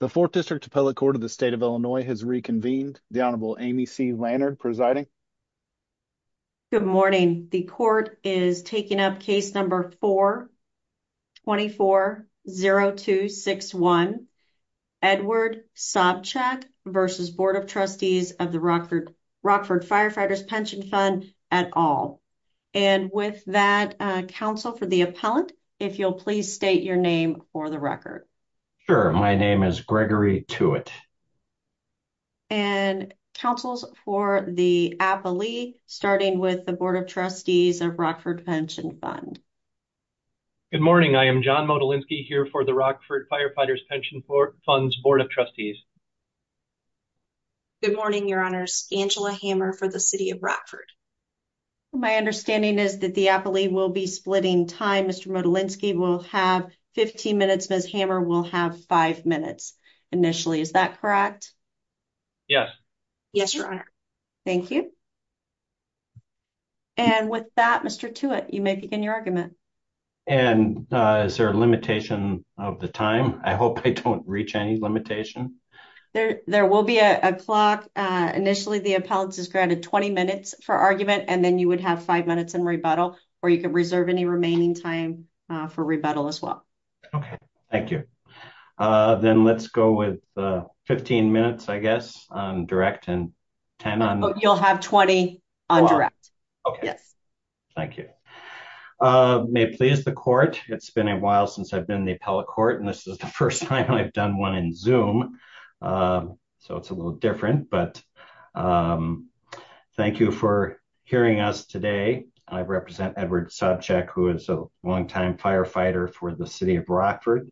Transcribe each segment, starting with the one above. The 4th District Appellate Court of the State of Illinois has reconvened. The Honorable Amy C. Lannard presiding. Good morning. The court is taking up case number 4-24-0261 Edward Sobczyk v. Board of Trustees of the Rockford Firefighters' Pension Fund et al. And with that counsel for the appellant, if you'll please state your name for the record. Sure. My name is Gregory Tewitt. And counsels for the appellee starting with the Board of Trustees of Rockford Pension Fund. Good morning. I am John Modolinski here for the Rockford Firefighters' Pension Fund's Board of Trustees. Good morning, Your Honors. Angela Hammer for the City of Rockford. My understanding is that the appellee will be splitting time. Mr. Modolinski will have 15 minutes. Ms. Hammer will have 5 minutes initially. Is that correct? Yes. Yes, Your Honor. Thank you. And with that, Mr. Tewitt, you may begin your argument. And is there a limitation of the time? I hope I don't reach any limitation. There will be a clock. Initially the appellant is granted 20 minutes for argument and then you would have 5 minutes in rebuttal or you Okay. Thank you. Then let's go with 15 minutes, I guess, on direct and 10 on... You'll have 20 on direct. Okay. Yes. Thank you. May it please the court. It's been a while since I've been the appellate court and this is the first time I've done one in Zoom. So it's a little different, but thank you for hearing us today. I represent Edward Sobchak, who is a long-time firefighter for the City of Rockford.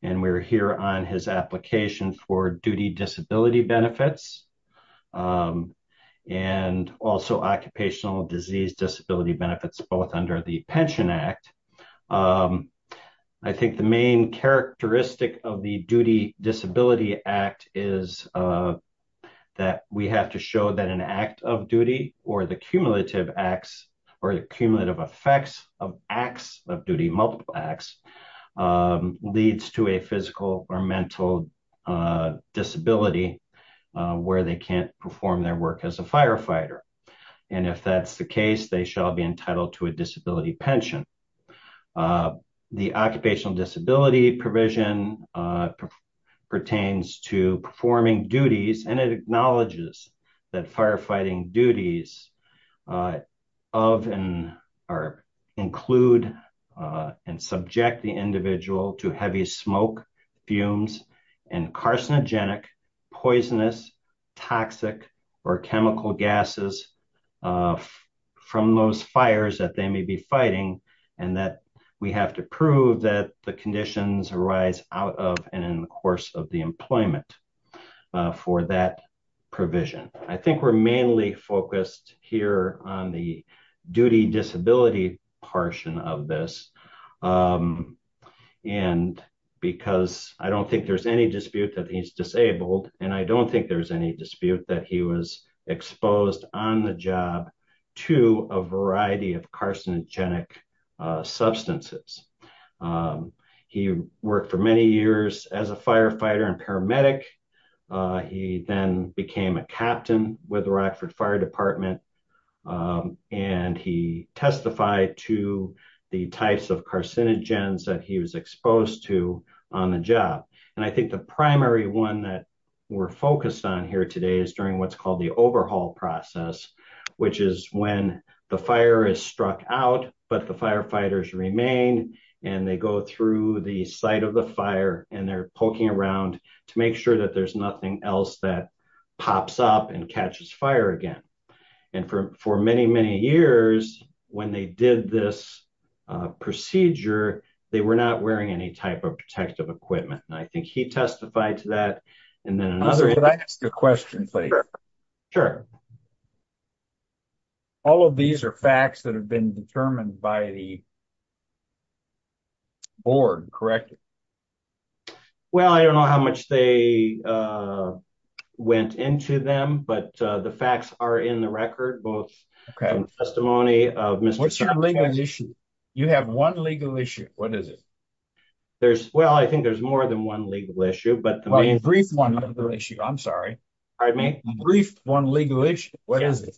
And we're here on his application for duty disability benefits and also occupational disease disability benefits, both under the Pension Act. I think the main characteristic of the Duty Disability Act is that we have to show that an act of duty or the cumulative acts or the cumulative effects of acts of duty, multiple acts, leads to a physical or mental disability where they can't perform their work as a firefighter. And if that's the case, they shall be entitled to a disability pension. The occupational disability provision pertains to performing duties and it acknowledges that firefighting duties include and subject the individual to heavy smoke, fumes, and carcinogenic, poisonous, toxic, or chemical gases from those fires that they may be fighting. And that we have to prove that the conditions arise out of and in the course of the employment for that provision. I think we're mainly focused here on the duty disability portion of this. And because I don't think there's any dispute that he's disabled, and I don't think there's any dispute that he was exposed on the job to a variety of carcinogenic substances. He worked for many years as a firefighter and paramedic. He then became a captain with Rockford Fire Department and he testified to the types of carcinogens that he was exposed to on the job. And I think the primary one that we're focused on here today is during what's called the overhaul process, which is when the fire is struck out, but the firefighters remain and they go through the site of the fire and they're poking around to make sure that there's nothing else that pops up and catches fire again. And for many, many years, when they did this procedure, they were not wearing any type of protective equipment. And I think he testified to that. And then another question. Sure. Sure. All of these are facts that have been determined by the board, correct? Well, I don't know how much they went into them, but the facts are in the record, both testimony of Mr. What's your legal issue? You have one legal issue. What is it? There's well, I think there's more than one legal issue, but the main brief one issue, I'm sorry. I may brief one legal issue. What is it?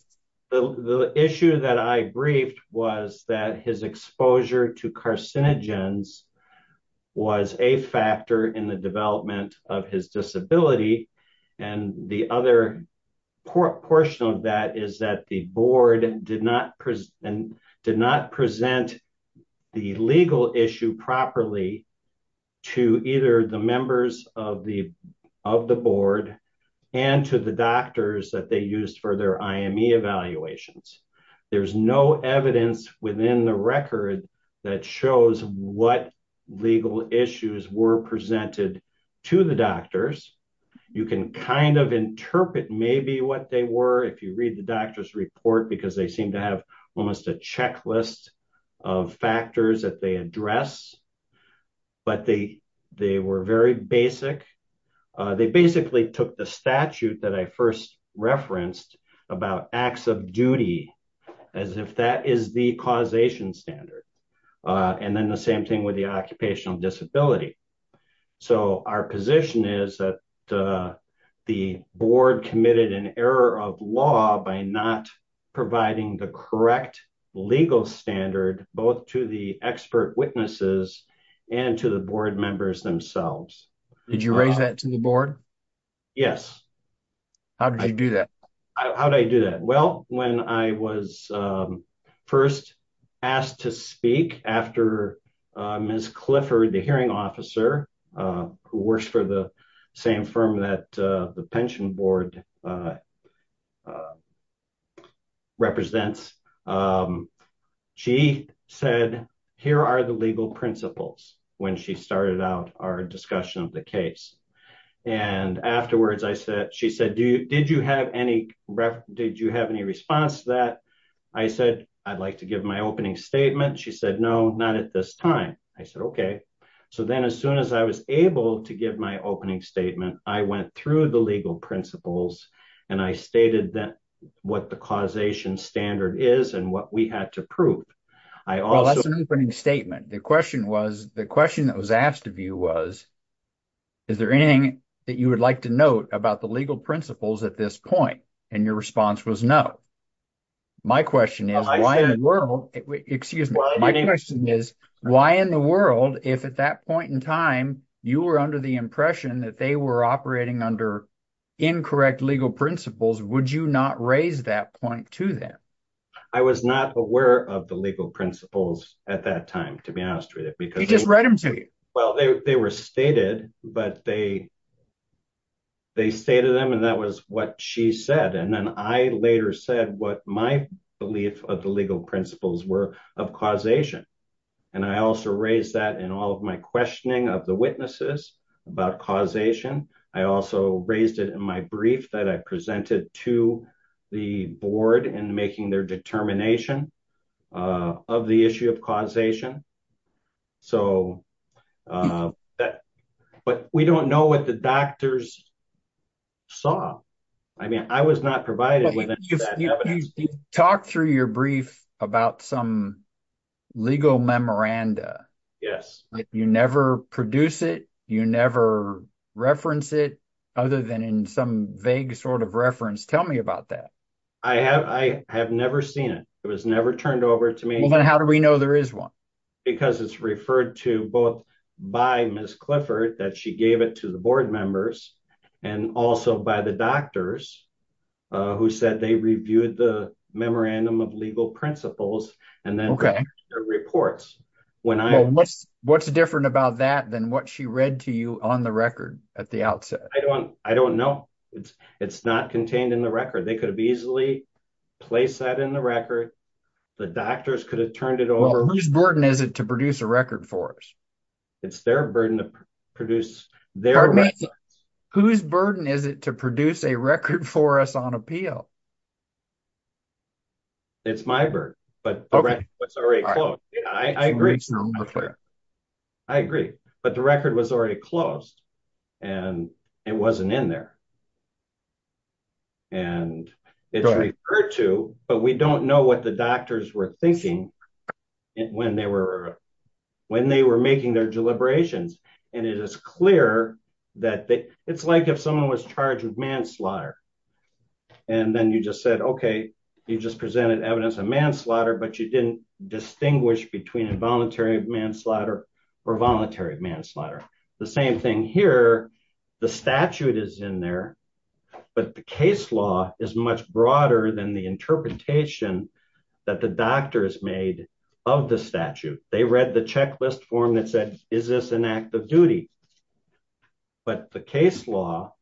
The issue that I briefed was that his exposure to carcinogens was a factor in the development of his disability. And the other portion of that is that the board did not present and did not present the legal issue properly to either the members of the, of the board and to the doctors that they used for their IME evaluations. There's no evidence within the record that shows what legal issues were presented to the doctors. You can kind of interpret maybe what they were. If you read the doctor's report, because they seem to have almost a checklist of factors that they address, but they, they were very basic. They basically took the statute that I first referenced about acts of duty as if that is the causation standard. And then the same thing with the occupational disability. So our position is that the board committed an error of law by not providing the correct legal standard, both to the expert witnesses and to the board members themselves. Did you raise that to the board? Yes. How did you do that? How did I do that? Well, when I was first asked to speak after Ms. Clifford, the hearing officer who works for the same firm that the pension board represents, she said, here are the legal principles when she started out our discussion of the case. And afterwards I said, she said, do you, did you have any, did you have any response that I said, I'd like to give my opening statement. She said, no, not at this time. I said, okay. So then as soon as I was able to give my opening statement, I went through the legal principles and I stated that what the causation standard is and what we had to prove. I also put in a statement. The question was, the question that was asked of you was, is there anything that you would like to note about the legal principles at this point? And your response was no. My question is, why in the world, excuse me. My question is, why in the world, if at that point in time you were under the impression that they were operating under incorrect legal principles, would you not raise that point to them? I was not aware of the legal principles at that time, to be honest with you. You just read them to you. Well, they were stated, but they, they stated them. And that was what she said. And then I later said what my belief of the legal principles were of causation. And I also raised that in all of my questioning of the witnesses about causation. I also raised it in my brief that I presented to the board and making their determination of the issue of causation. So that, but we don't know what the doctors saw. I mean, I was not provided with any of that evidence. You talked through your brief about some legal memoranda. Yes. You never produce it. You never reference it other than in some vague sort of reference. Tell me about that. I have, I have never seen it. It was never turned over to me. Then how do we know there is one? Because it's referred to both by Ms. Clifford, that she gave it to the board members and also by the doctors who said they reviewed the memorandum of legal principles and then their reports. What's different about that than what read to you on the record at the outset? I don't know. It's not contained in the record. They could have easily placed that in the record. The doctors could have turned it over. Whose burden is it to produce a record for us? It's their burden to produce. Whose burden is it to produce a record for us on appeal? It's my bird, but I agree. I agree, but the record was already closed and it wasn't in there and it's referred to, but we don't know what the doctors were thinking when they were, when they were making their deliberations. And it is clear that it's like someone was charged with manslaughter. And then you just said, okay, you just presented evidence of manslaughter, but you didn't distinguish between involuntary manslaughter or voluntary manslaughter. The same thing here, the statute is in there, but the case law is much broader than the interpretation that the doctors made of the statute. They read the checklist form that said, is this an act of duty? But the case law,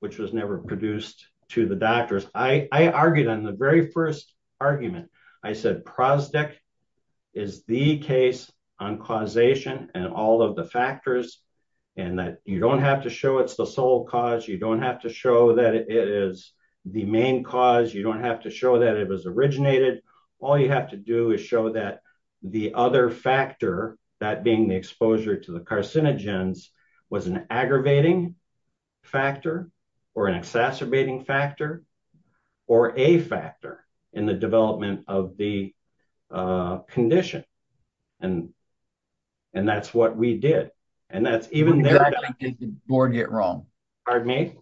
which was never produced to the doctors, I argued on the very first argument, I said, Prosdek is the case on causation and all of the factors and that you don't have to show it's the sole cause. You don't have to show that it is the main cause. You don't have to show that it was originated. All you have to do is show that the other factor, that being the exposure to the carcinogens was an aggravating factor or an exacerbating factor or a factor in the development of the condition. And, and that's what we did. And that's even there. Exactly, did the board get wrong? Pardon me?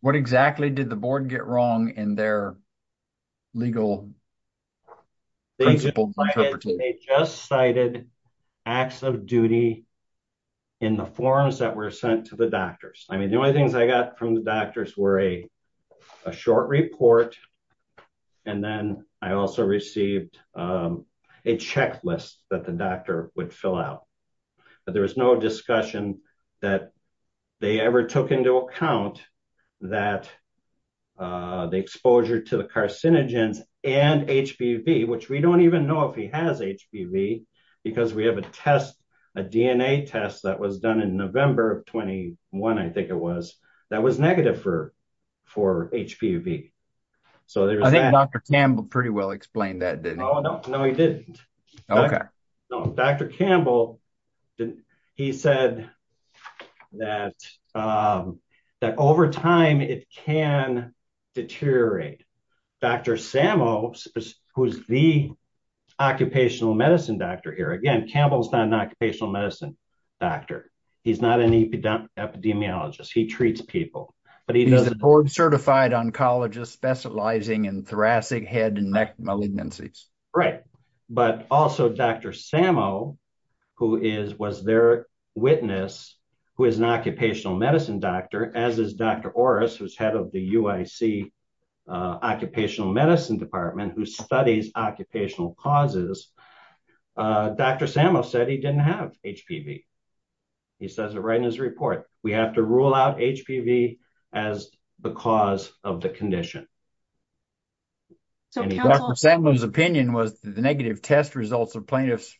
What exactly did the board get wrong in their legal interpretation? They just cited acts of duty in the forms that were sent to the doctors. I mean, the only things I got from the doctors were a short report. And then I also received a checklist that the doctor would fill out, but there was no discussion that they ever took into account that the exposure to the carcinogens and HPV, which we don't even know if he has HPV because we have a test, a DNA test that was done in November of 21, I think it was, that was negative for, for HPV. So there was that. I think Dr. Campbell pretty well explained that, didn't he? Oh, no, no, he didn't. Okay. Dr. Campbell, he said that, that over time it can deteriorate. Dr. Samo, who's the occupational medicine doctor here, again, Campbell's not an occupational medicine doctor. He's not an epidemiologist. He treats people, but he doesn't- He's a board certified oncologist specializing in thoracic head and neck malignancies. Right. But also Dr. Samo, who is, was their witness, who is an occupational medicine doctor, as is Dr. Orris, who's head of the UIC occupational medicine department, who studies occupational causes. Dr. Samo said he didn't have HPV. He says it right in his report. We have to rule out HPV as the cause of the condition. And Dr. Samo's opinion was that the negative test results of plaintiff's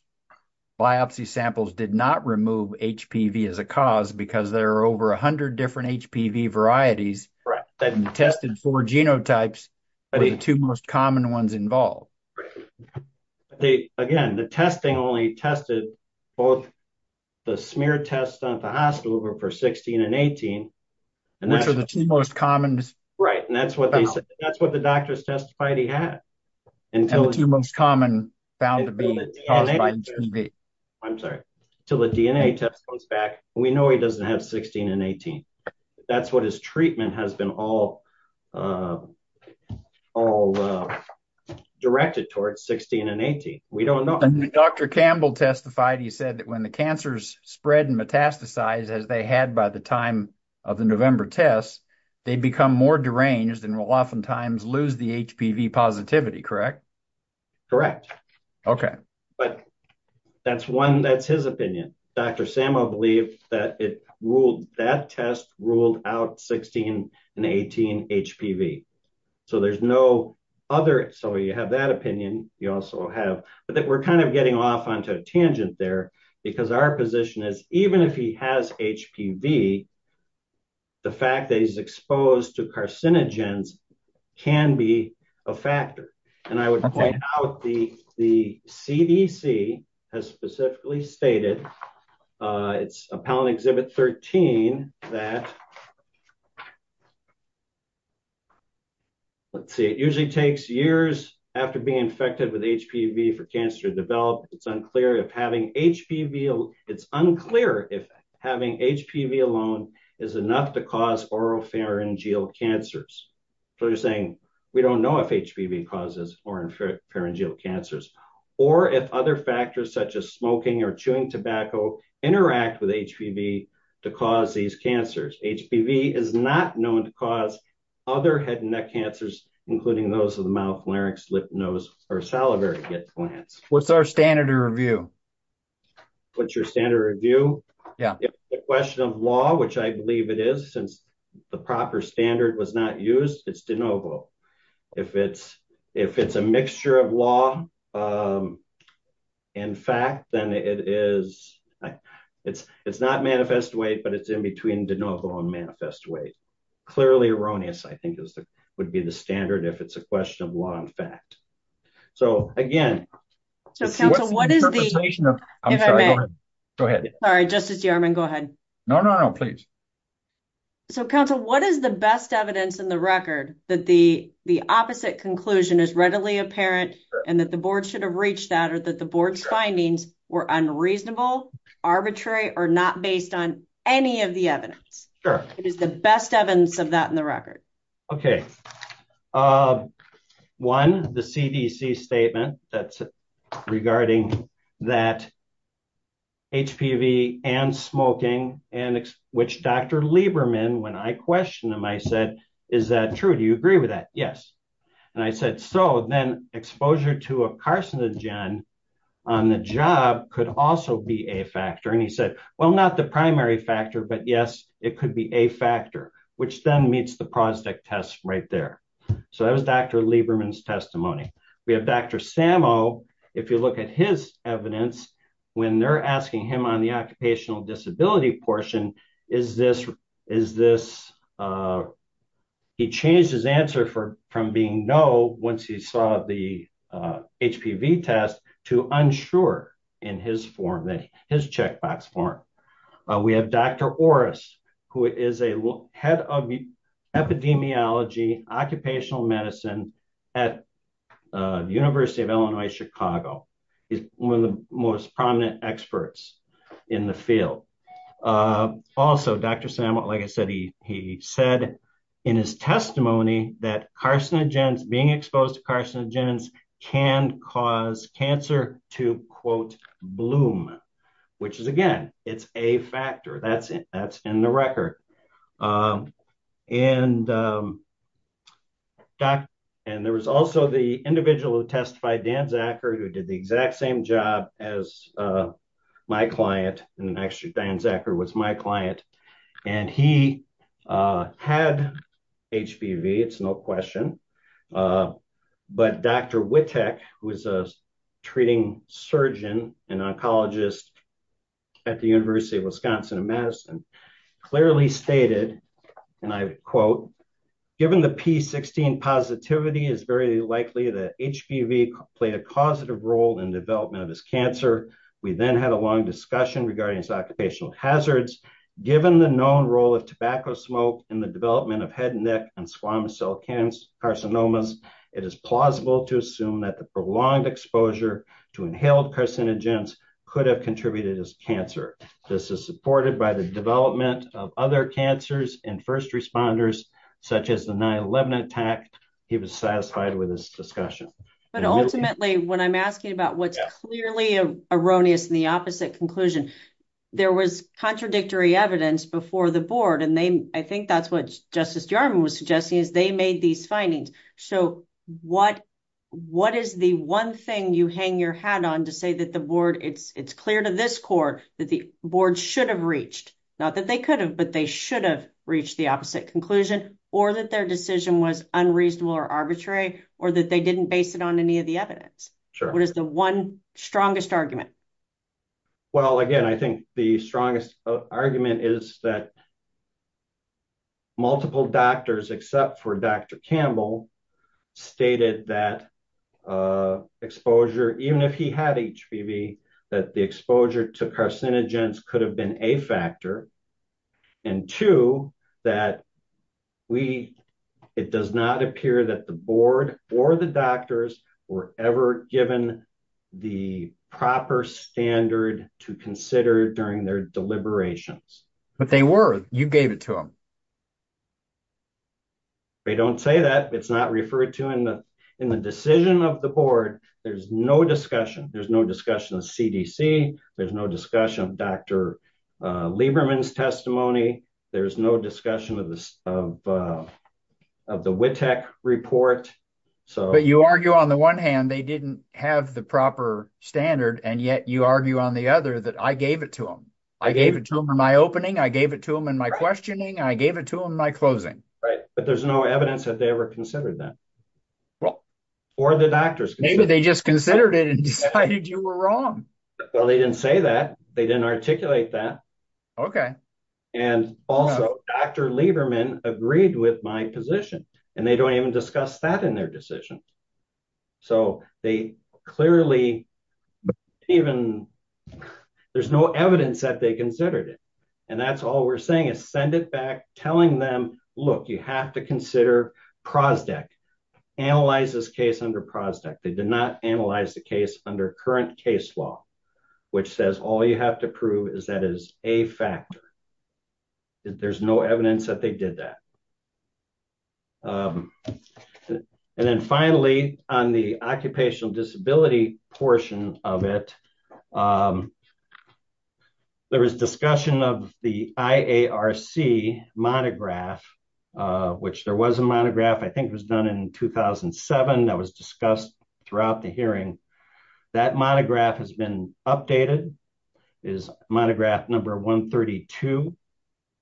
biopsy samples did not remove HPV as a cause because there are over a hundred different HPV varieties that have been tested for genotypes, but the two most common ones involved. Again, the testing only tested both the smear tests done at the hospital were for 16 and 18. Which are the two most common- Right. And that's what they said. That's what the doctors testified he had. And the two most common found to be caused by HPV. I'm sorry. Until the DNA test comes back, we know he doesn't have 16 and 18. That's what his treatment has been all directed towards, 16 and 18. We don't know. Dr. Campbell testified, he said that when the cancers spread and metastasize as they had by time of the November tests, they become more deranged and will oftentimes lose the HPV positivity. Correct? Correct. Okay. But that's one, that's his opinion. Dr. Samo believed that it ruled that test ruled out 16 and 18 HPV. So there's no other. So you have that opinion. You also have, but that we're getting off onto a tangent there because our position is even if he has HPV, the fact that he's exposed to carcinogens can be a factor. And I would point out the CDC has specifically stated, it's appellate exhibit 13 that, let's see, it usually takes years after being infected with HPV for cancer to develop. It's unclear if having HPV, it's unclear if having HPV alone is enough to cause oropharyngeal cancers. So you're saying we don't know if HPV causes oropharyngeal cancers or if other factors such as smoking or chewing tobacco interact with HPV to cause these cancers. HPV is not known to cause other head and neck cancers, including those of the mouth, larynx, lip, nose, or salivary glands. What's our standard of review? What's your standard review? Yeah. The question of law, which I believe it is since the proper standard was not used. It's de novo. If it's a mixture of law and fact, then it is, it's not manifest weight, but it's in between de novo and manifest weight. Clearly erroneous, I think would be the standard if it's a question of law and fact. So again- So counsel, what is the- Interpretation of, I'm sorry, go ahead. Go ahead. Sorry, Justice Yarman, go ahead. No, no, no, please. So counsel, what is the best evidence in the record that the opposite conclusion is readily apparent and that the board should have reached that or that the board's findings were unreasonable, arbitrary, or not based on any of the evidence? It is the best evidence of that in the record. Okay. One, the CDC statement that's regarding that HPV and smoking and which Dr. Lieberman, when I questioned him, I said, is that true? Do you agree with that? Yes. And I said, so then exposure to a carcinogen on the job could also be a factor. And he said, well, not the primary factor, but yes, it could be a factor, which then meets the prostate test right there. So that was Dr. Lieberman's testimony. We have Dr. Sammo, if you look at his evidence, when they're asking him on the occupational disability portion, is this, he changed his answer from being no, once he saw the HPV test to unsure in his form, his checkbox form. We have Dr. Orris, who is a head of epidemiology, occupational medicine at University of Illinois, Chicago. He's one of the most prominent experts in the field. Also Dr. Sammo, like I said, he said in his testimony that carcinogens, being exposed to carcinogens can cause cancer to quote bloom, which is again, it's a factor that's in the record. And there was also the individual who testified, Dan Zachar, who did the exact same job as my client. And actually Dan Zachar was my client and he had HPV, it's no question. But Dr. Witek, who is a treating surgeon and oncologist at the University of Wisconsin at Madison, clearly stated, and I quote, given the P16 positivity is very likely that HPV played a causative role in development of his cancer. We then had a long smoke in the development of head and neck and squamous cell cancer carcinomas. It is plausible to assume that the prolonged exposure to inhaled carcinogens could have contributed as cancer. This is supported by the development of other cancers and first responders, such as the 9-11 attack. He was satisfied with this discussion. But ultimately when I'm asking about what's clearly erroneous in the opposite conclusion, there was contradictory evidence before the board. And I think that's what Justice Jarman was suggesting is they made these findings. So what is the one thing you hang your hat on to say that the board, it's clear to this court that the board should have reached, not that they could have, but they should have reached the opposite conclusion or that their decision was unreasonable or arbitrary or that they didn't base it on any of the evidence. What is the one strongest argument? Well, again, I think the strongest argument is that multiple doctors, except for Dr. Campbell, stated that exposure, even if he had HPV, that the exposure to carcinogens could have been a factor. And two, that it does not appear that the board or the doctors were ever given the proper standard to consider during their deliberations. But they were. You gave it to them. They don't say that. It's not referred to in the decision of the board. There's no discussion. There's no discussion of CDC. There's no discussion of Dr. Lieberman's testimony. There's no discussion of the WITEC report. But you argue on the one hand, they didn't have the proper standard, and yet you argue on the other that I gave it to them. I gave it to them in my opening. I gave it to them in my questioning. I gave it to them in my closing. Right. But there's no evidence that they ever considered that. Or the doctors. Maybe they just considered it and decided you were wrong. Well, they didn't say that. They didn't articulate that. Okay. And also, Dr. Lieberman agreed with my position. And they don't even discuss that in their decision. So they clearly even, there's no evidence that they considered it. And that's all we're saying is send it back, telling them, look, you have to consider PROSDEC. Analyze this case under PROSDEC. They did not analyze the case under current case law, which says all you have to factor. There's no evidence that they did that. And then finally, on the occupational disability portion of it, there was discussion of the IARC monograph, which there was a monograph, I think it was done in 2007 that was discussed throughout the hearing. That monograph has been updated, is monograph number 132.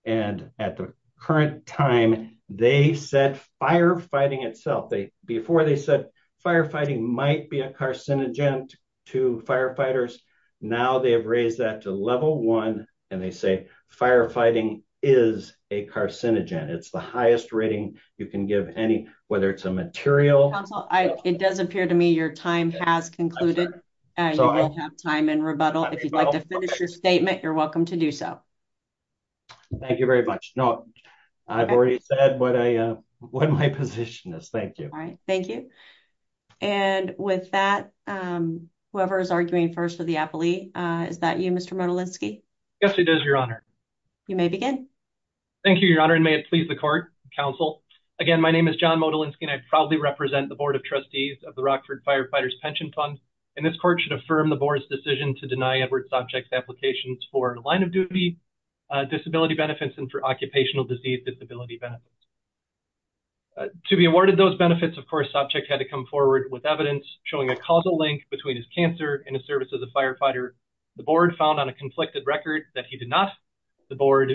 And at the current time, they said firefighting itself, before they said firefighting might be a carcinogen to firefighters. Now they have raised that to level one. And they say, firefighting is a carcinogen. It's the highest rating you can give any, whether it's a material- If you'd like to finish your statement, you're welcome to do so. Thank you very much. No, I've already said what my position is. Thank you. All right. Thank you. And with that, whoever is arguing first for the appellee, is that you, Mr. Modalinski? Yes, it is, Your Honor. You may begin. Thank you, Your Honor, and may it please the court, counsel. Again, my name is John Modalinski, and I proudly represent the Board of Trustees of the Rockford Firefighters Pension Fund. And this court should affirm the board's decision to deny Edward Sopcich's applications for line-of-duty disability benefits and for occupational disease disability benefits. To be awarded those benefits, of course, Sopcich had to come forward with evidence showing a causal link between his cancer and his service as a firefighter. The board found on a conflicted record that he did not. The board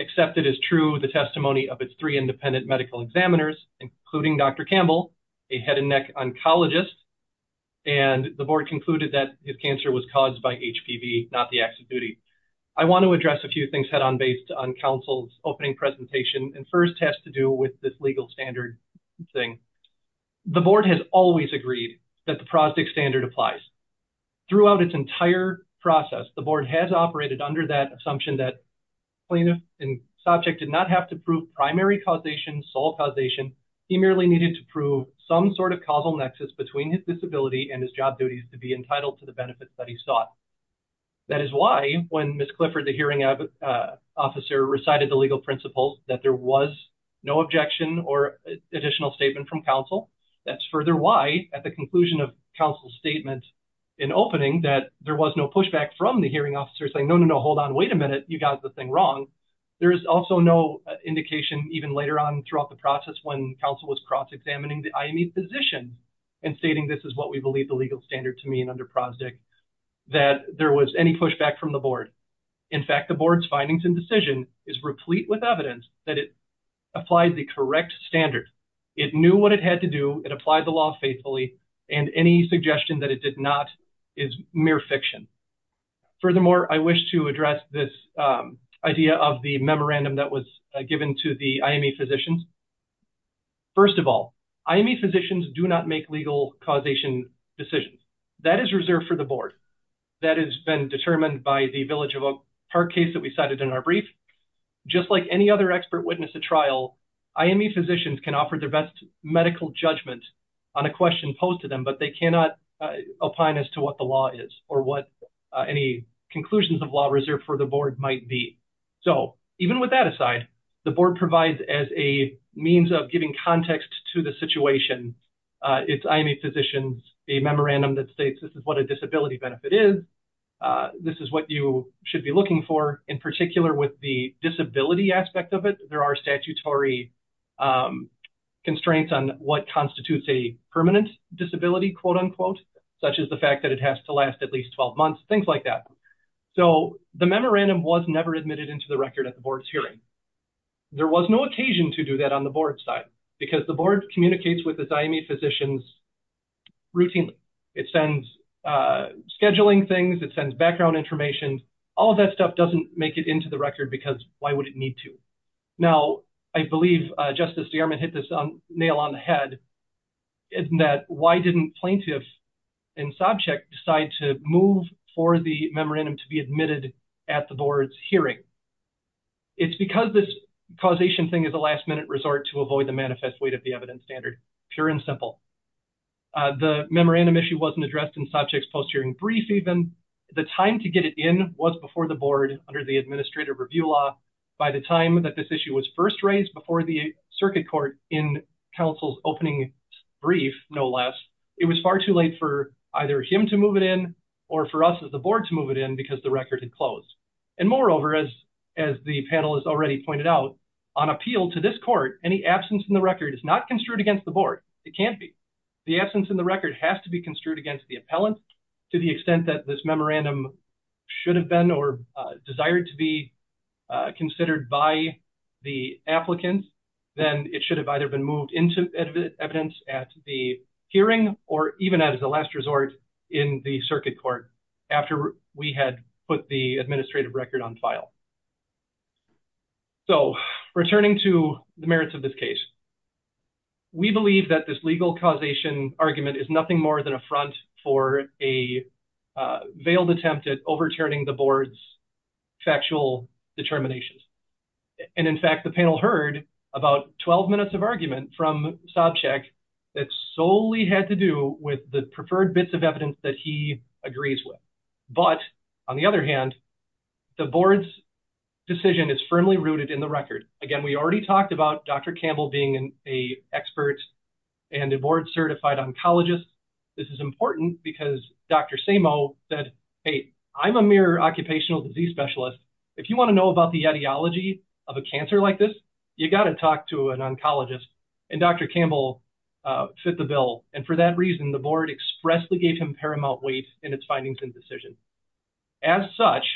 accepted as true the testimony of its three independent medical examiners, including Dr. Campbell, a head and neck oncologist, and the board concluded that his cancer was caused by HPV, not the acts of duty. I want to address a few things head-on based on counsel's opening presentation, and first has to do with this legal standard thing. The board has always agreed that the Prosdick Standard applies. Throughout its entire process, the board has operated under that assumption that plaintiff and Sopcich did not have to prove primary causation, sole causation. He merely needed to prove some sort of causal nexus between his disability and his job duties to be entitled to the benefits that he sought. That is why when Ms. Clifford, the hearing officer, recited the legal principles, that there was no objection or additional statement from counsel. That's further why, at the conclusion of counsel's statement in opening, that there was no pushback from the hearing officer saying, no, no, no, hold on, wait a minute, you got the thing wrong. There is also no indication even later on throughout the process when counsel was examining the IME physician and stating this is what we believe the legal standard to mean under Prosdick, that there was any pushback from the board. In fact, the board's findings and decision is replete with evidence that it applied the correct standard. It knew what it had to do, it applied the law faithfully, and any suggestion that it did not is mere fiction. Furthermore, I wish to address this idea of the memorandum that was given to the IME physicians. First of all, IME physicians do not make legal causation decisions. That is reserved for the board. That has been determined by the Village of Oak Park case that we cited in our brief. Just like any other expert witness at trial, IME physicians can offer their best medical judgment on a question posed to them, but they cannot opine as to what the law is or what any conclusions of the case are. The IME physicians memorandum provides as a means of giving context to the situation. It is IME physicians, a memorandum that states this is what a disability benefit is, this is what you should be looking for. In particular, with the disability aspect of it, there are statutory constraints on what constitutes a permanent disability, quote, unquote, such as the fact that it has to last at least 12 months, things like that. So the memorandum was never admitted into the record at the board's hearing. There was no occasion to do that on the board's side because the board communicates with its IME physicians routinely. It sends scheduling things, it sends background information. All of that stuff doesn't make it into the record because why would it need to? Now, I believe Justice DeArmond hit this nail on the head in that why didn't plaintiff and subject decide to move for the memorandum to be admitted at the board's hearing? It's because this causation thing is a last-minute resort to avoid the manifest weight of the evidence standard, pure and simple. The memorandum issue wasn't addressed in subject's post-hearing brief even. The time to get it in was before the board under the administrative review law. By the time that this issue was first raised before the circuit court in counsel's opening brief, no less, it was far too late for either him to move it in or for us as the board to move it in because the record had closed. And moreover, as the panel has already pointed out, on appeal to this court, any absence in the record is not construed against the board. It can't be. The absence in the record has to be construed against the appellant. To the extent that this memorandum should have been or desired to be considered by the applicant, then it should have either been moved into evidence at the hearing or even as a last resort in the circuit court after we had put the administrative record on file. So returning to the merits of this case, we believe that this legal causation argument is nothing more than a front for a veiled attempt at overturning the board's factual determinations. And in fact, the panel heard about 12 minutes of sob check that solely had to do with the preferred bits of evidence that he agrees with. But on the other hand, the board's decision is firmly rooted in the record. Again, we already talked about Dr. Campbell being an expert and a board certified oncologist. This is important because Dr. Samo said, hey, I'm a mere occupational disease specialist. If you want to know about the ideology of a cancer like this, you got to talk to an oncologist. And Dr. Campbell fit the bill. And for that reason, the board expressly gave him paramount weight in its findings and decisions. As such,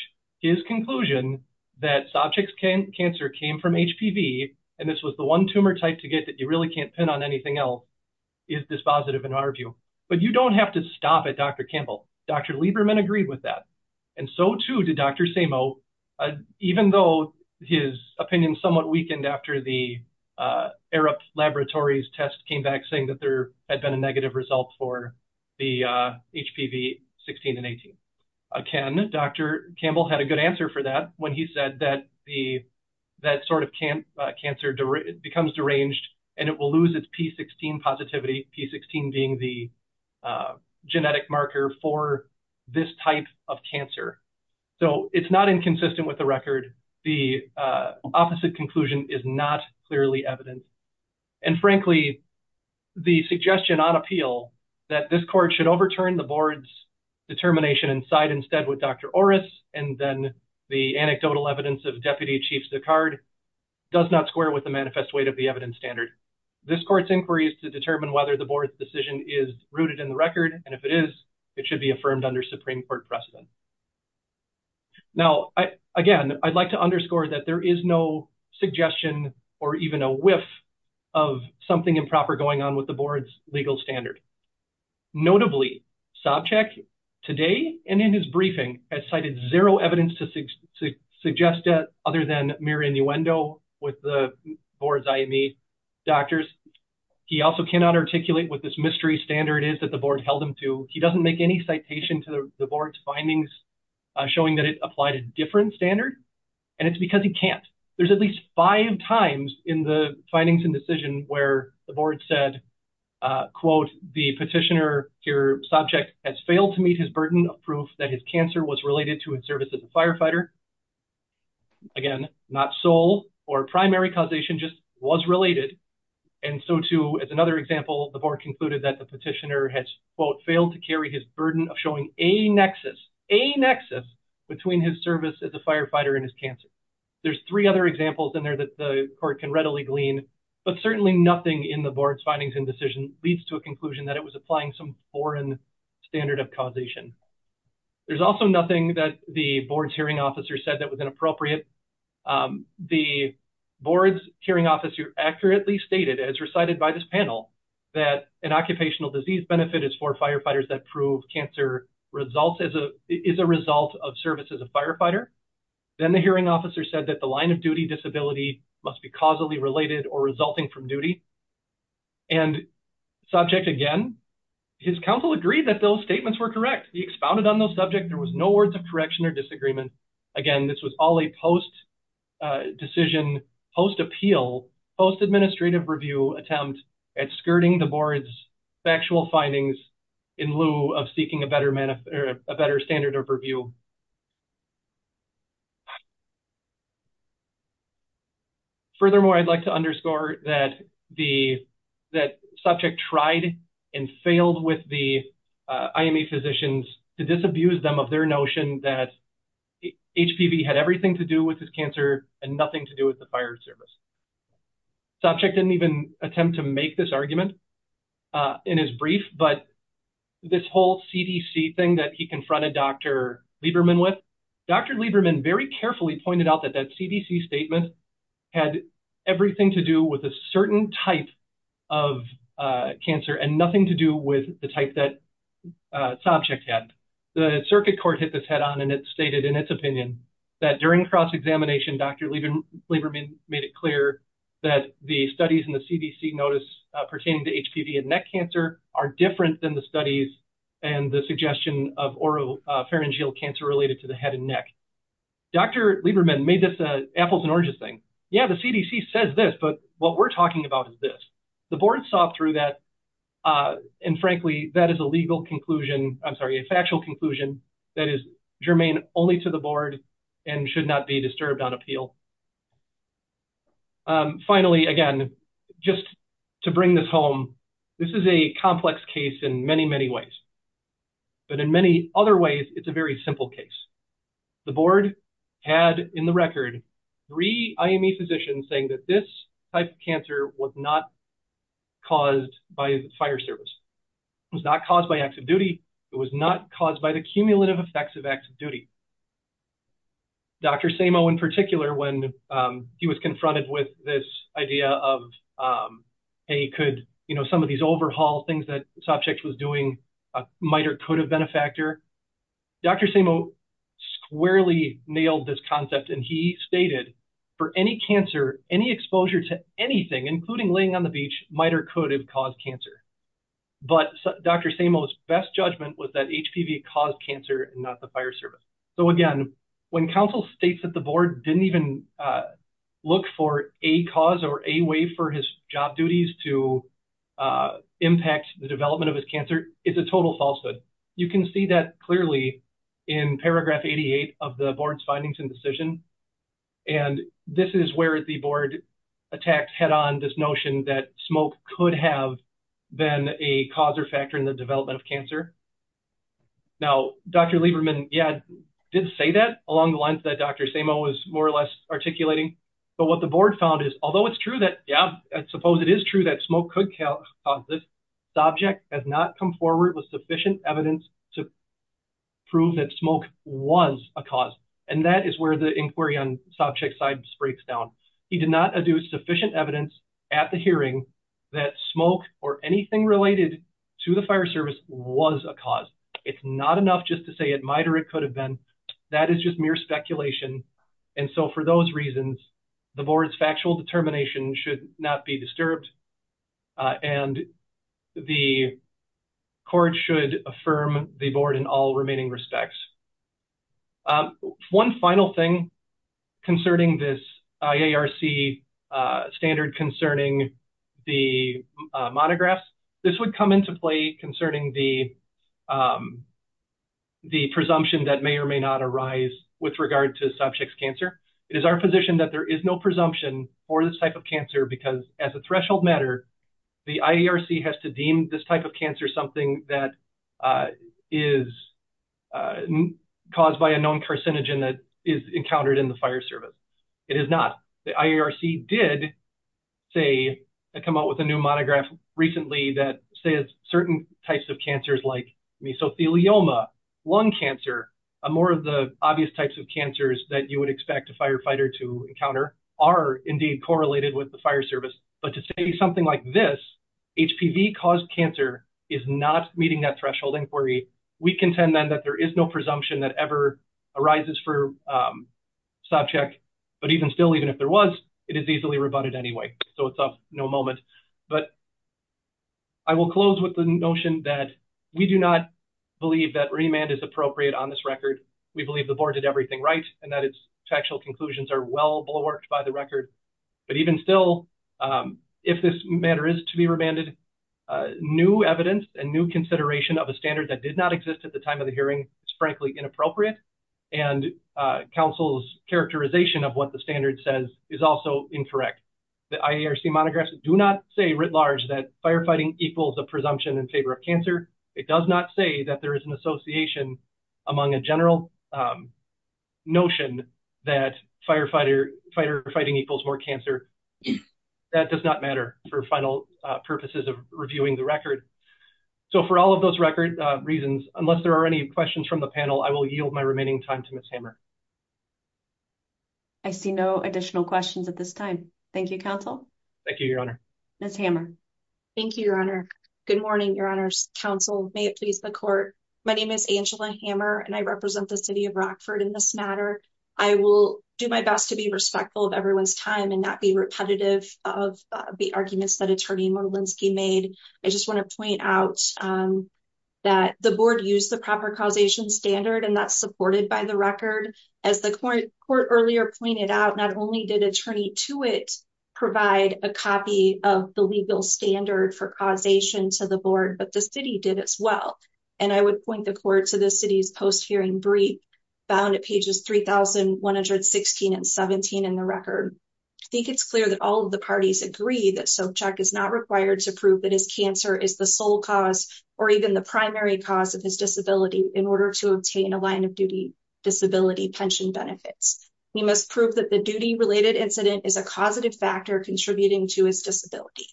his conclusion that sob check cancer came from HPV and this was the one tumor type to get that you really can't pin on anything else is dispositive in our view. But you don't have to stop at Dr. Campbell. Dr. Lieberman agreed with that. And so too did Dr. Samo, even though his opinion somewhat weakened after the Arab Laboratories test came back saying that there had been a negative result for the HPV 16 and 18. Again, Dr. Campbell had a good answer for that when he said that sort of cancer becomes deranged and it will lose its P16 positivity, P16 being the genetic marker for this type of cancer. So it's not inconsistent with the record. The opposite conclusion is not clearly evident. And frankly, the suggestion on appeal that this court should overturn the board's determination and side instead with Dr. Orris. And then the anecdotal evidence of deputy chiefs, the card does not square with the manifest weight of the evidence standard. This court's inquiry is to determine whether the board's decision is rooted in the record. And if it is, it should be affirmed under Supreme court precedent. Now, again, I'd like to underscore that there is no suggestion or even a whiff of something improper going on with the board's legal standard. Notably sob check today and in his briefing has cited zero evidence to suggest that other than mere innuendo with the board's IME doctors. He also cannot articulate what this mystery standard is that the board held him to. He doesn't make any citation to the board's findings showing that it applied a different standard. And it's because he can't. There's at least five times in the findings and decision where the board said, quote, the petitioner, your subject has failed to meet his burden of proof that his cancer was related to his service as a firefighter. Again, not soul or primary causation just was related. And so too, as another example, the board concluded that the petitioner had quote, failed to carry his burden of showing a nexus, a nexus between his service as a firefighter and his cancer. There's three other examples in there that the court can readily glean, but certainly nothing in the board's findings and decision leads to a conclusion that it was applying some foreign standard of causation. There's also nothing that the board's hearing officer said that was inappropriate. The board's hearing officer accurately stated as recited by this panel that an occupational disease benefit is for firefighters that prove cancer results as a, is a result of service as a firefighter. Then the hearing officer said that the line of duty disability must be causally related or resulting from duty. And subject again, his counsel agreed that those statements were correct. He expounded on those subject. There was no words of correction or disagreement. Again, this was all a post decision, post appeal, post administrative review attempt at skirting the board's factual findings in lieu of seeking a better, a better standard of review. Furthermore, I'd like to underscore that the, that subject tried and failed with the IME physicians to disabuse them of their notion that HPV had everything to do with his cancer and nothing to do with the fire service. Subject didn't even attempt to make this argument in his brief, but this whole CDC thing that he confronted Dr. Lieberman with, Dr. Lieberman very carefully pointed out that that CDC statement had everything to do with a certain type of cancer and nothing to do with the type that subject had. The circuit court hit this head on and it stated in its opinion that during cross-examination, Dr. Lieberman made it clear that the studies in the CDC notice pertaining to HPV and neck cancer are different than the studies and the suggestion of oropharyngeal cancer related to the head and neck. Dr. Lieberman made this a apples and oranges thing. Yeah, the CDC says this, but what we're talking about is this. The board saw through that. And frankly, that is a legal conclusion. I'm sorry, a factual conclusion that is germane only to the board and should not be disturbed on appeal. Finally, again, just to bring this home, this is a complex case in many, many ways, but in many other ways, it's a very simple case. The board had in the record three IME physicians saying that this type of cancer was not caused by the fire service. It was not caused by acts of duty. It was not caused by the cumulative effects of acts of duty. Dr. Samo in particular, when he was confronted with this idea of, hey, could some of these overhaul things that Sopcich was doing might or could have been a factor. Dr. Samo squarely nailed this concept, and he stated for any cancer, any exposure to anything, including laying on the beach, might or could have caused cancer. But Dr. Samo's best judgment was that HPV caused cancer and not the fire service. So again, when counsel states that the board didn't even look for a cause or a way for his job duties to impact the development of his cancer, it's a total falsehood. You can see that clearly in paragraph 88 of the board's findings and decision. And this is where the board attacked head on this notion that smoke could have been a cause or factor in the development of cancer. Now, Dr. Lieberman, yeah, did say that along the lines that Dr. Samo was more or less articulating. But what the board found is, although it's true that, yeah, I suppose it is true that smoke could cause this, Sopcich has not come forward with sufficient evidence to prove that smoke was a cause. And that is where the inquiry on Sopcich's side breaks down. He did not adduce sufficient evidence at the hearing that smoke or anything related to the fire service was a cause. It's not enough just to say it might or it could have been. That is just mere speculation. And so for those reasons, the board's factual determination should not be disturbed and the court should affirm the board in all remaining respects. One final thing concerning this IARC standard concerning the monographs. This would come into play concerning the presumption that may or may not arise with regard to Sopcich's cancer. It is our position that there is no presumption for this type of cancer because as a threshold matter, the IARC has to deem this type of cancer something that is caused by a known carcinogen that is encountered in the fire service. It is not. The IARC did come out with a new monograph recently that says certain types of cancers like mesothelioma, lung cancer, and more of the obvious types of cancers that you would expect a firefighter to encounter are indeed correlated with the fire service. But to say something like this, HPV-caused cancer is not meeting that threshold inquiry. We contend then there is no presumption that ever arises for Sopcich. But even still, even if there was, it is easily rebutted anyway. So it's of no moment. But I will close with the notion that we do not believe that remand is appropriate on this record. We believe the board did everything right and that its factual conclusions are well-blow-worked by the record. But even still, if this matter is to be remanded, new evidence and new consideration of a standard that did not at the time of the hearing is frankly inappropriate. And council's characterization of what the standard says is also incorrect. The IARC monographs do not say writ large that firefighting equals a presumption in favor of cancer. It does not say that there is an association among a general notion that firefighting equals more cancer. That does not matter for final purposes of reviewing the record. So for all of those record reasons, unless there are any questions from the panel, I will yield my remaining time to Ms. Hammer. I see no additional questions at this time. Thank you, counsel. Thank you, Your Honor. Ms. Hammer. Thank you, Your Honor. Good morning, Your Honor's counsel. May it please the court. My name is Angela Hammer and I represent the city of Rockford in this matter. I will do my best to be respectful of everyone's time and not be repetitive of the arguments that attorney Molenski made. I just want to point out that the board used the proper causation standard and that's supported by the record. As the court earlier pointed out, not only did attorney to it provide a copy of the legal standard for causation to the board, but the city did as well. And I would point the court to the city's post-hearing brief bound at pages 3,116 and 17 in the record. I think it's clear that all of the parties agree that Sobchak is not required to prove that his cancer is the sole cause or even the primary cause of his disability in order to obtain a line of duty disability pension benefits. He must prove that the duty-related incident is a causative factor contributing to his disability.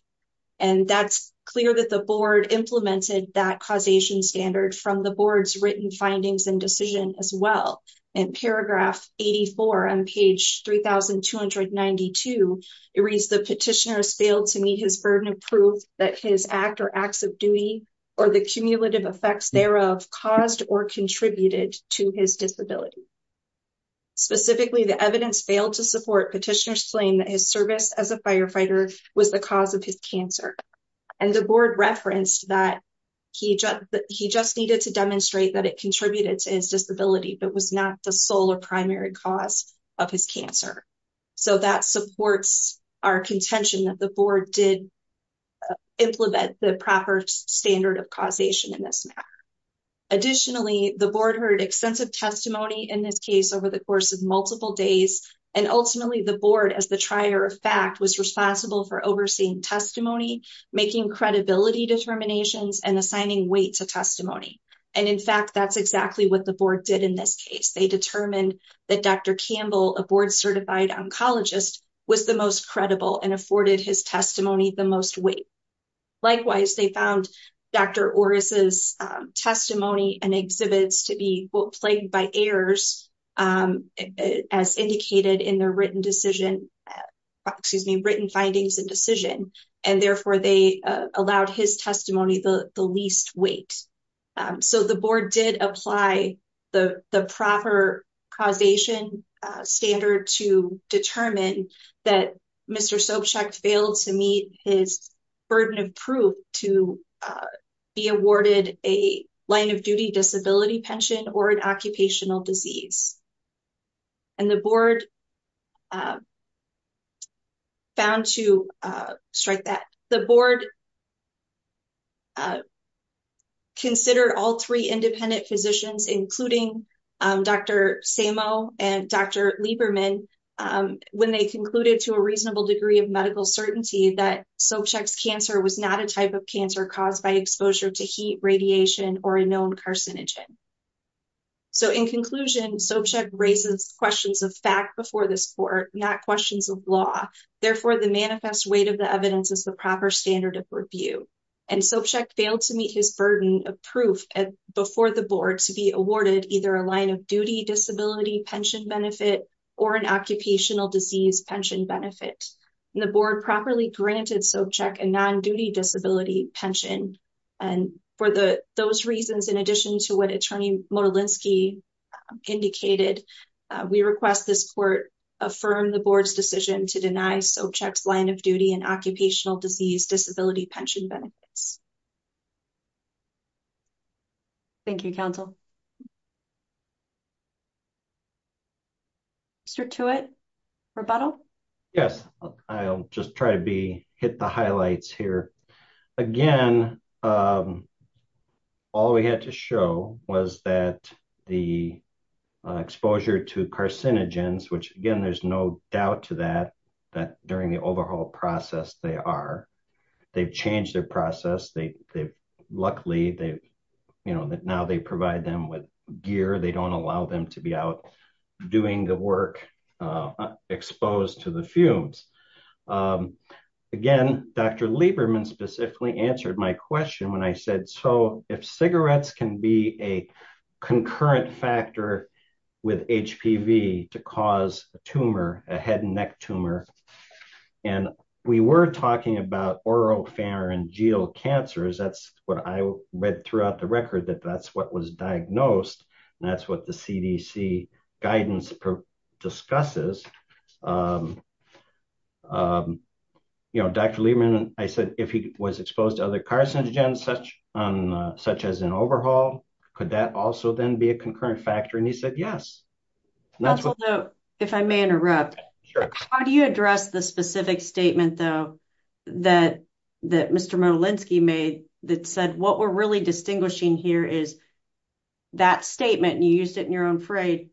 And that's clear that the board implemented that causation standard from the board's findings and decision as well. In paragraph 84 on page 3,292, it reads, the petitioner has failed to meet his burden of proof that his act or acts of duty or the cumulative effects thereof caused or contributed to his disability. Specifically, the evidence failed to support petitioner's claim that his service as a firefighter was the cause of his and the board referenced that he just needed to demonstrate that it contributed to his disability, but was not the sole or primary cause of his cancer. So that supports our contention that the board did implement the proper standard of causation in this matter. Additionally, the board heard extensive testimony in this case over the course of multiple days. And ultimately the board as the trier of fact was responsible for overseeing testimony, making credibility determinations and assigning weight to testimony. And in fact, that's exactly what the board did in this case. They determined that Dr. Campbell, a board certified oncologist was the most credible and afforded his testimony the most weight. Likewise, they found Dr. Orris' testimony and exhibits to be plagued by errors and as indicated in their written decision, excuse me, written findings and decision. And therefore they allowed his testimony the least weight. So the board did apply the proper causation standard to determine that Mr. Sobchak failed to meet his burden of proof to be awarded a line of duty disability pension or an occupational disease. And the board found to strike that the board consider all three independent physicians, including Dr. Sammo and Dr. Lieberman, when they concluded to a reasonable degree of medical certainty that cancer was not a type of cancer caused by exposure to heat radiation or a known carcinogen. So in conclusion, Sobchak raises questions of fact before this court, not questions of law. Therefore the manifest weight of the evidence is the proper standard of review. And Sobchak failed to meet his burden of proof before the board to be awarded either a line of duty disability pension benefit or an occupational disease pension benefit. And the board properly granted Sobchak a non-duty disability pension. And for those reasons, in addition to what attorney Modolinsky indicated, we request this court affirm the board's decision to deny Sobchak's line of duty and occupational disease disability pension benefits. Thank you counsel. Mr. Tewitt, rebuttal? Yes, I'll just try to be hit the highlights here. Again, all we had to show was that the exposure to carcinogens, which again, there's no doubt to that, that during the overhaul process, they are, they've changed their process. They've luckily, you know, that now they provide them with gear. They don't allow them to be out doing the work exposed to the fumes. Again, Dr. Lieberman specifically answered my question when I said, so if cigarettes can be a concurrent factor with HPV to cause a tumor, a head and throughout the record that that's what was diagnosed. And that's what the CDC guidance discusses. You know, Dr. Lieberman, I said, if he was exposed to other carcinogens, such as an overhaul, could that also then be a concurrent factor? And he said, yes. If I may interrupt, how do you address the specific statement though, that, that Mr. Molenski made that said, what we're really distinguishing here is that statement and you used it in your own phrase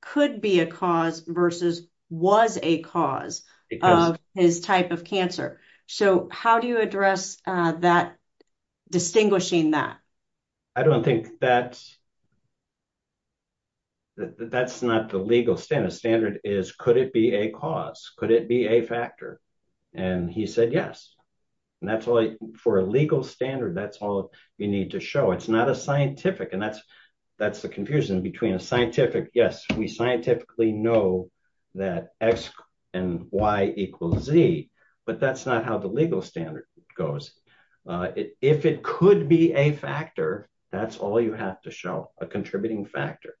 could be a cause versus was a cause of his type of cancer. So how do you address that distinguishing that? I don't think that's, that's not the legal standard. Standard is, could it be a cause? Could it be a factor? And he said, yes. And that's all for a legal standard. That's all you need to show. It's not a scientific and that's, that's the confusion between a scientific. Yes. We scientifically know that X and Y equals Z, but that's not how the legal standard goes. If it could be a factor, that's all you have to show a contributing factor.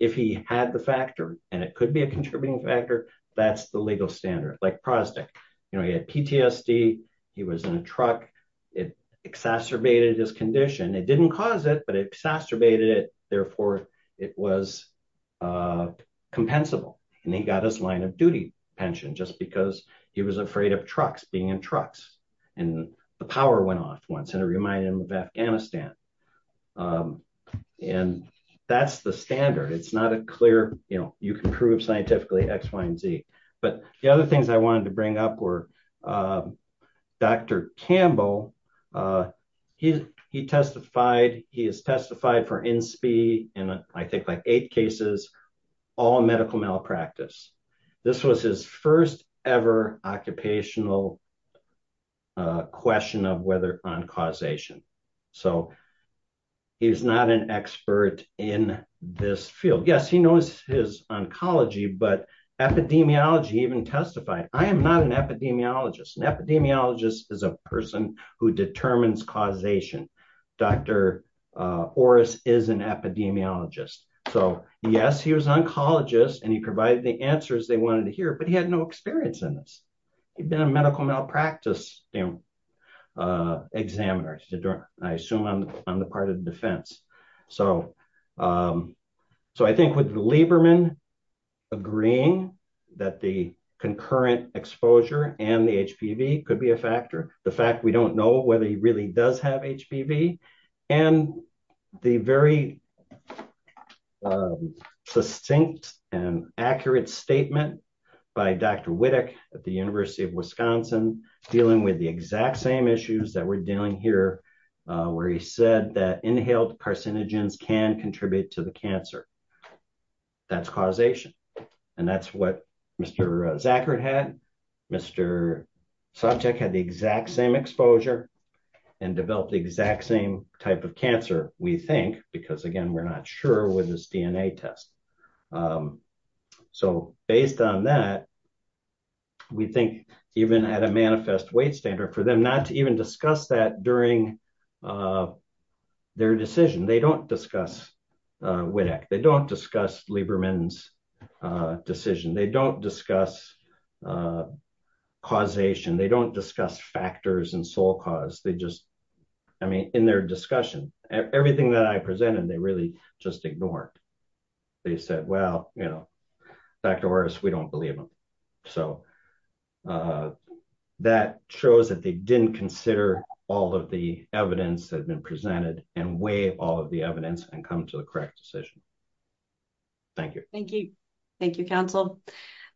If he had the factor and it could be contributing factor, that's the legal standard, like Protestant, you know, he had PTSD, he was in a truck, it exacerbated his condition. It didn't cause it, but it exacerbated it. Therefore it was compensable. And he got his line of duty pension just because he was afraid of trucks being in trucks and the power went off once. And it reminded him of Afghanistan. And that's the standard. It's not a clear, you know, you can prove scientifically X, Y, and Z. But the other things I wanted to bring up were Dr. Campbell. He testified, he has testified for INSPI in, I think like eight cases, all medical malpractice. This was his first ever occupational question of whether on causation. So he's not an expert in this field. Yes, he knows his oncology, but epidemiology even testified. I am not an epidemiologist. An epidemiologist is a person who determines causation. Dr. Orris is an epidemiologist. So yes, he was oncologist and he provided the answers they wanted to hear, but he had no experience in this. He'd been a medical malpractice examiner, I assume on the part of the defense. So I think with Lieberman agreeing that the concurrent exposure and the HPV could be a factor, the fact we don't know whether he really does have HPV and the very succinct and accurate statement by Dr. Wittig at the University of Wisconsin, dealing with the exact same issues that we're dealing here, where he said that inhaled carcinogens can contribute to the cancer. That's causation. And that's what Mr. Zachert had. Mr. Sopcich had the exact same exposure and developed the exact same type of cancer, we think, because again, we're not sure with this DNA test. So based on that, we think even at a manifest weight standard for them not to even discuss that during their decision. They don't discuss Wittig. They don't discuss Lieberman's decision. They don't discuss causation. They don't discuss factors and sole cause. They just, I mean, in their discussion, everything that I presented, they really just ignored. They said, well, you know, Dr. Orris, we don't believe him. So that shows that they didn't consider all of the evidence that had been presented and weigh all of the evidence and come to the correct decision. Thank you. Thank you. Thank you, counsel.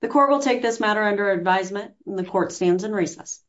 The court will take this matter under advisement and the court stands in recess.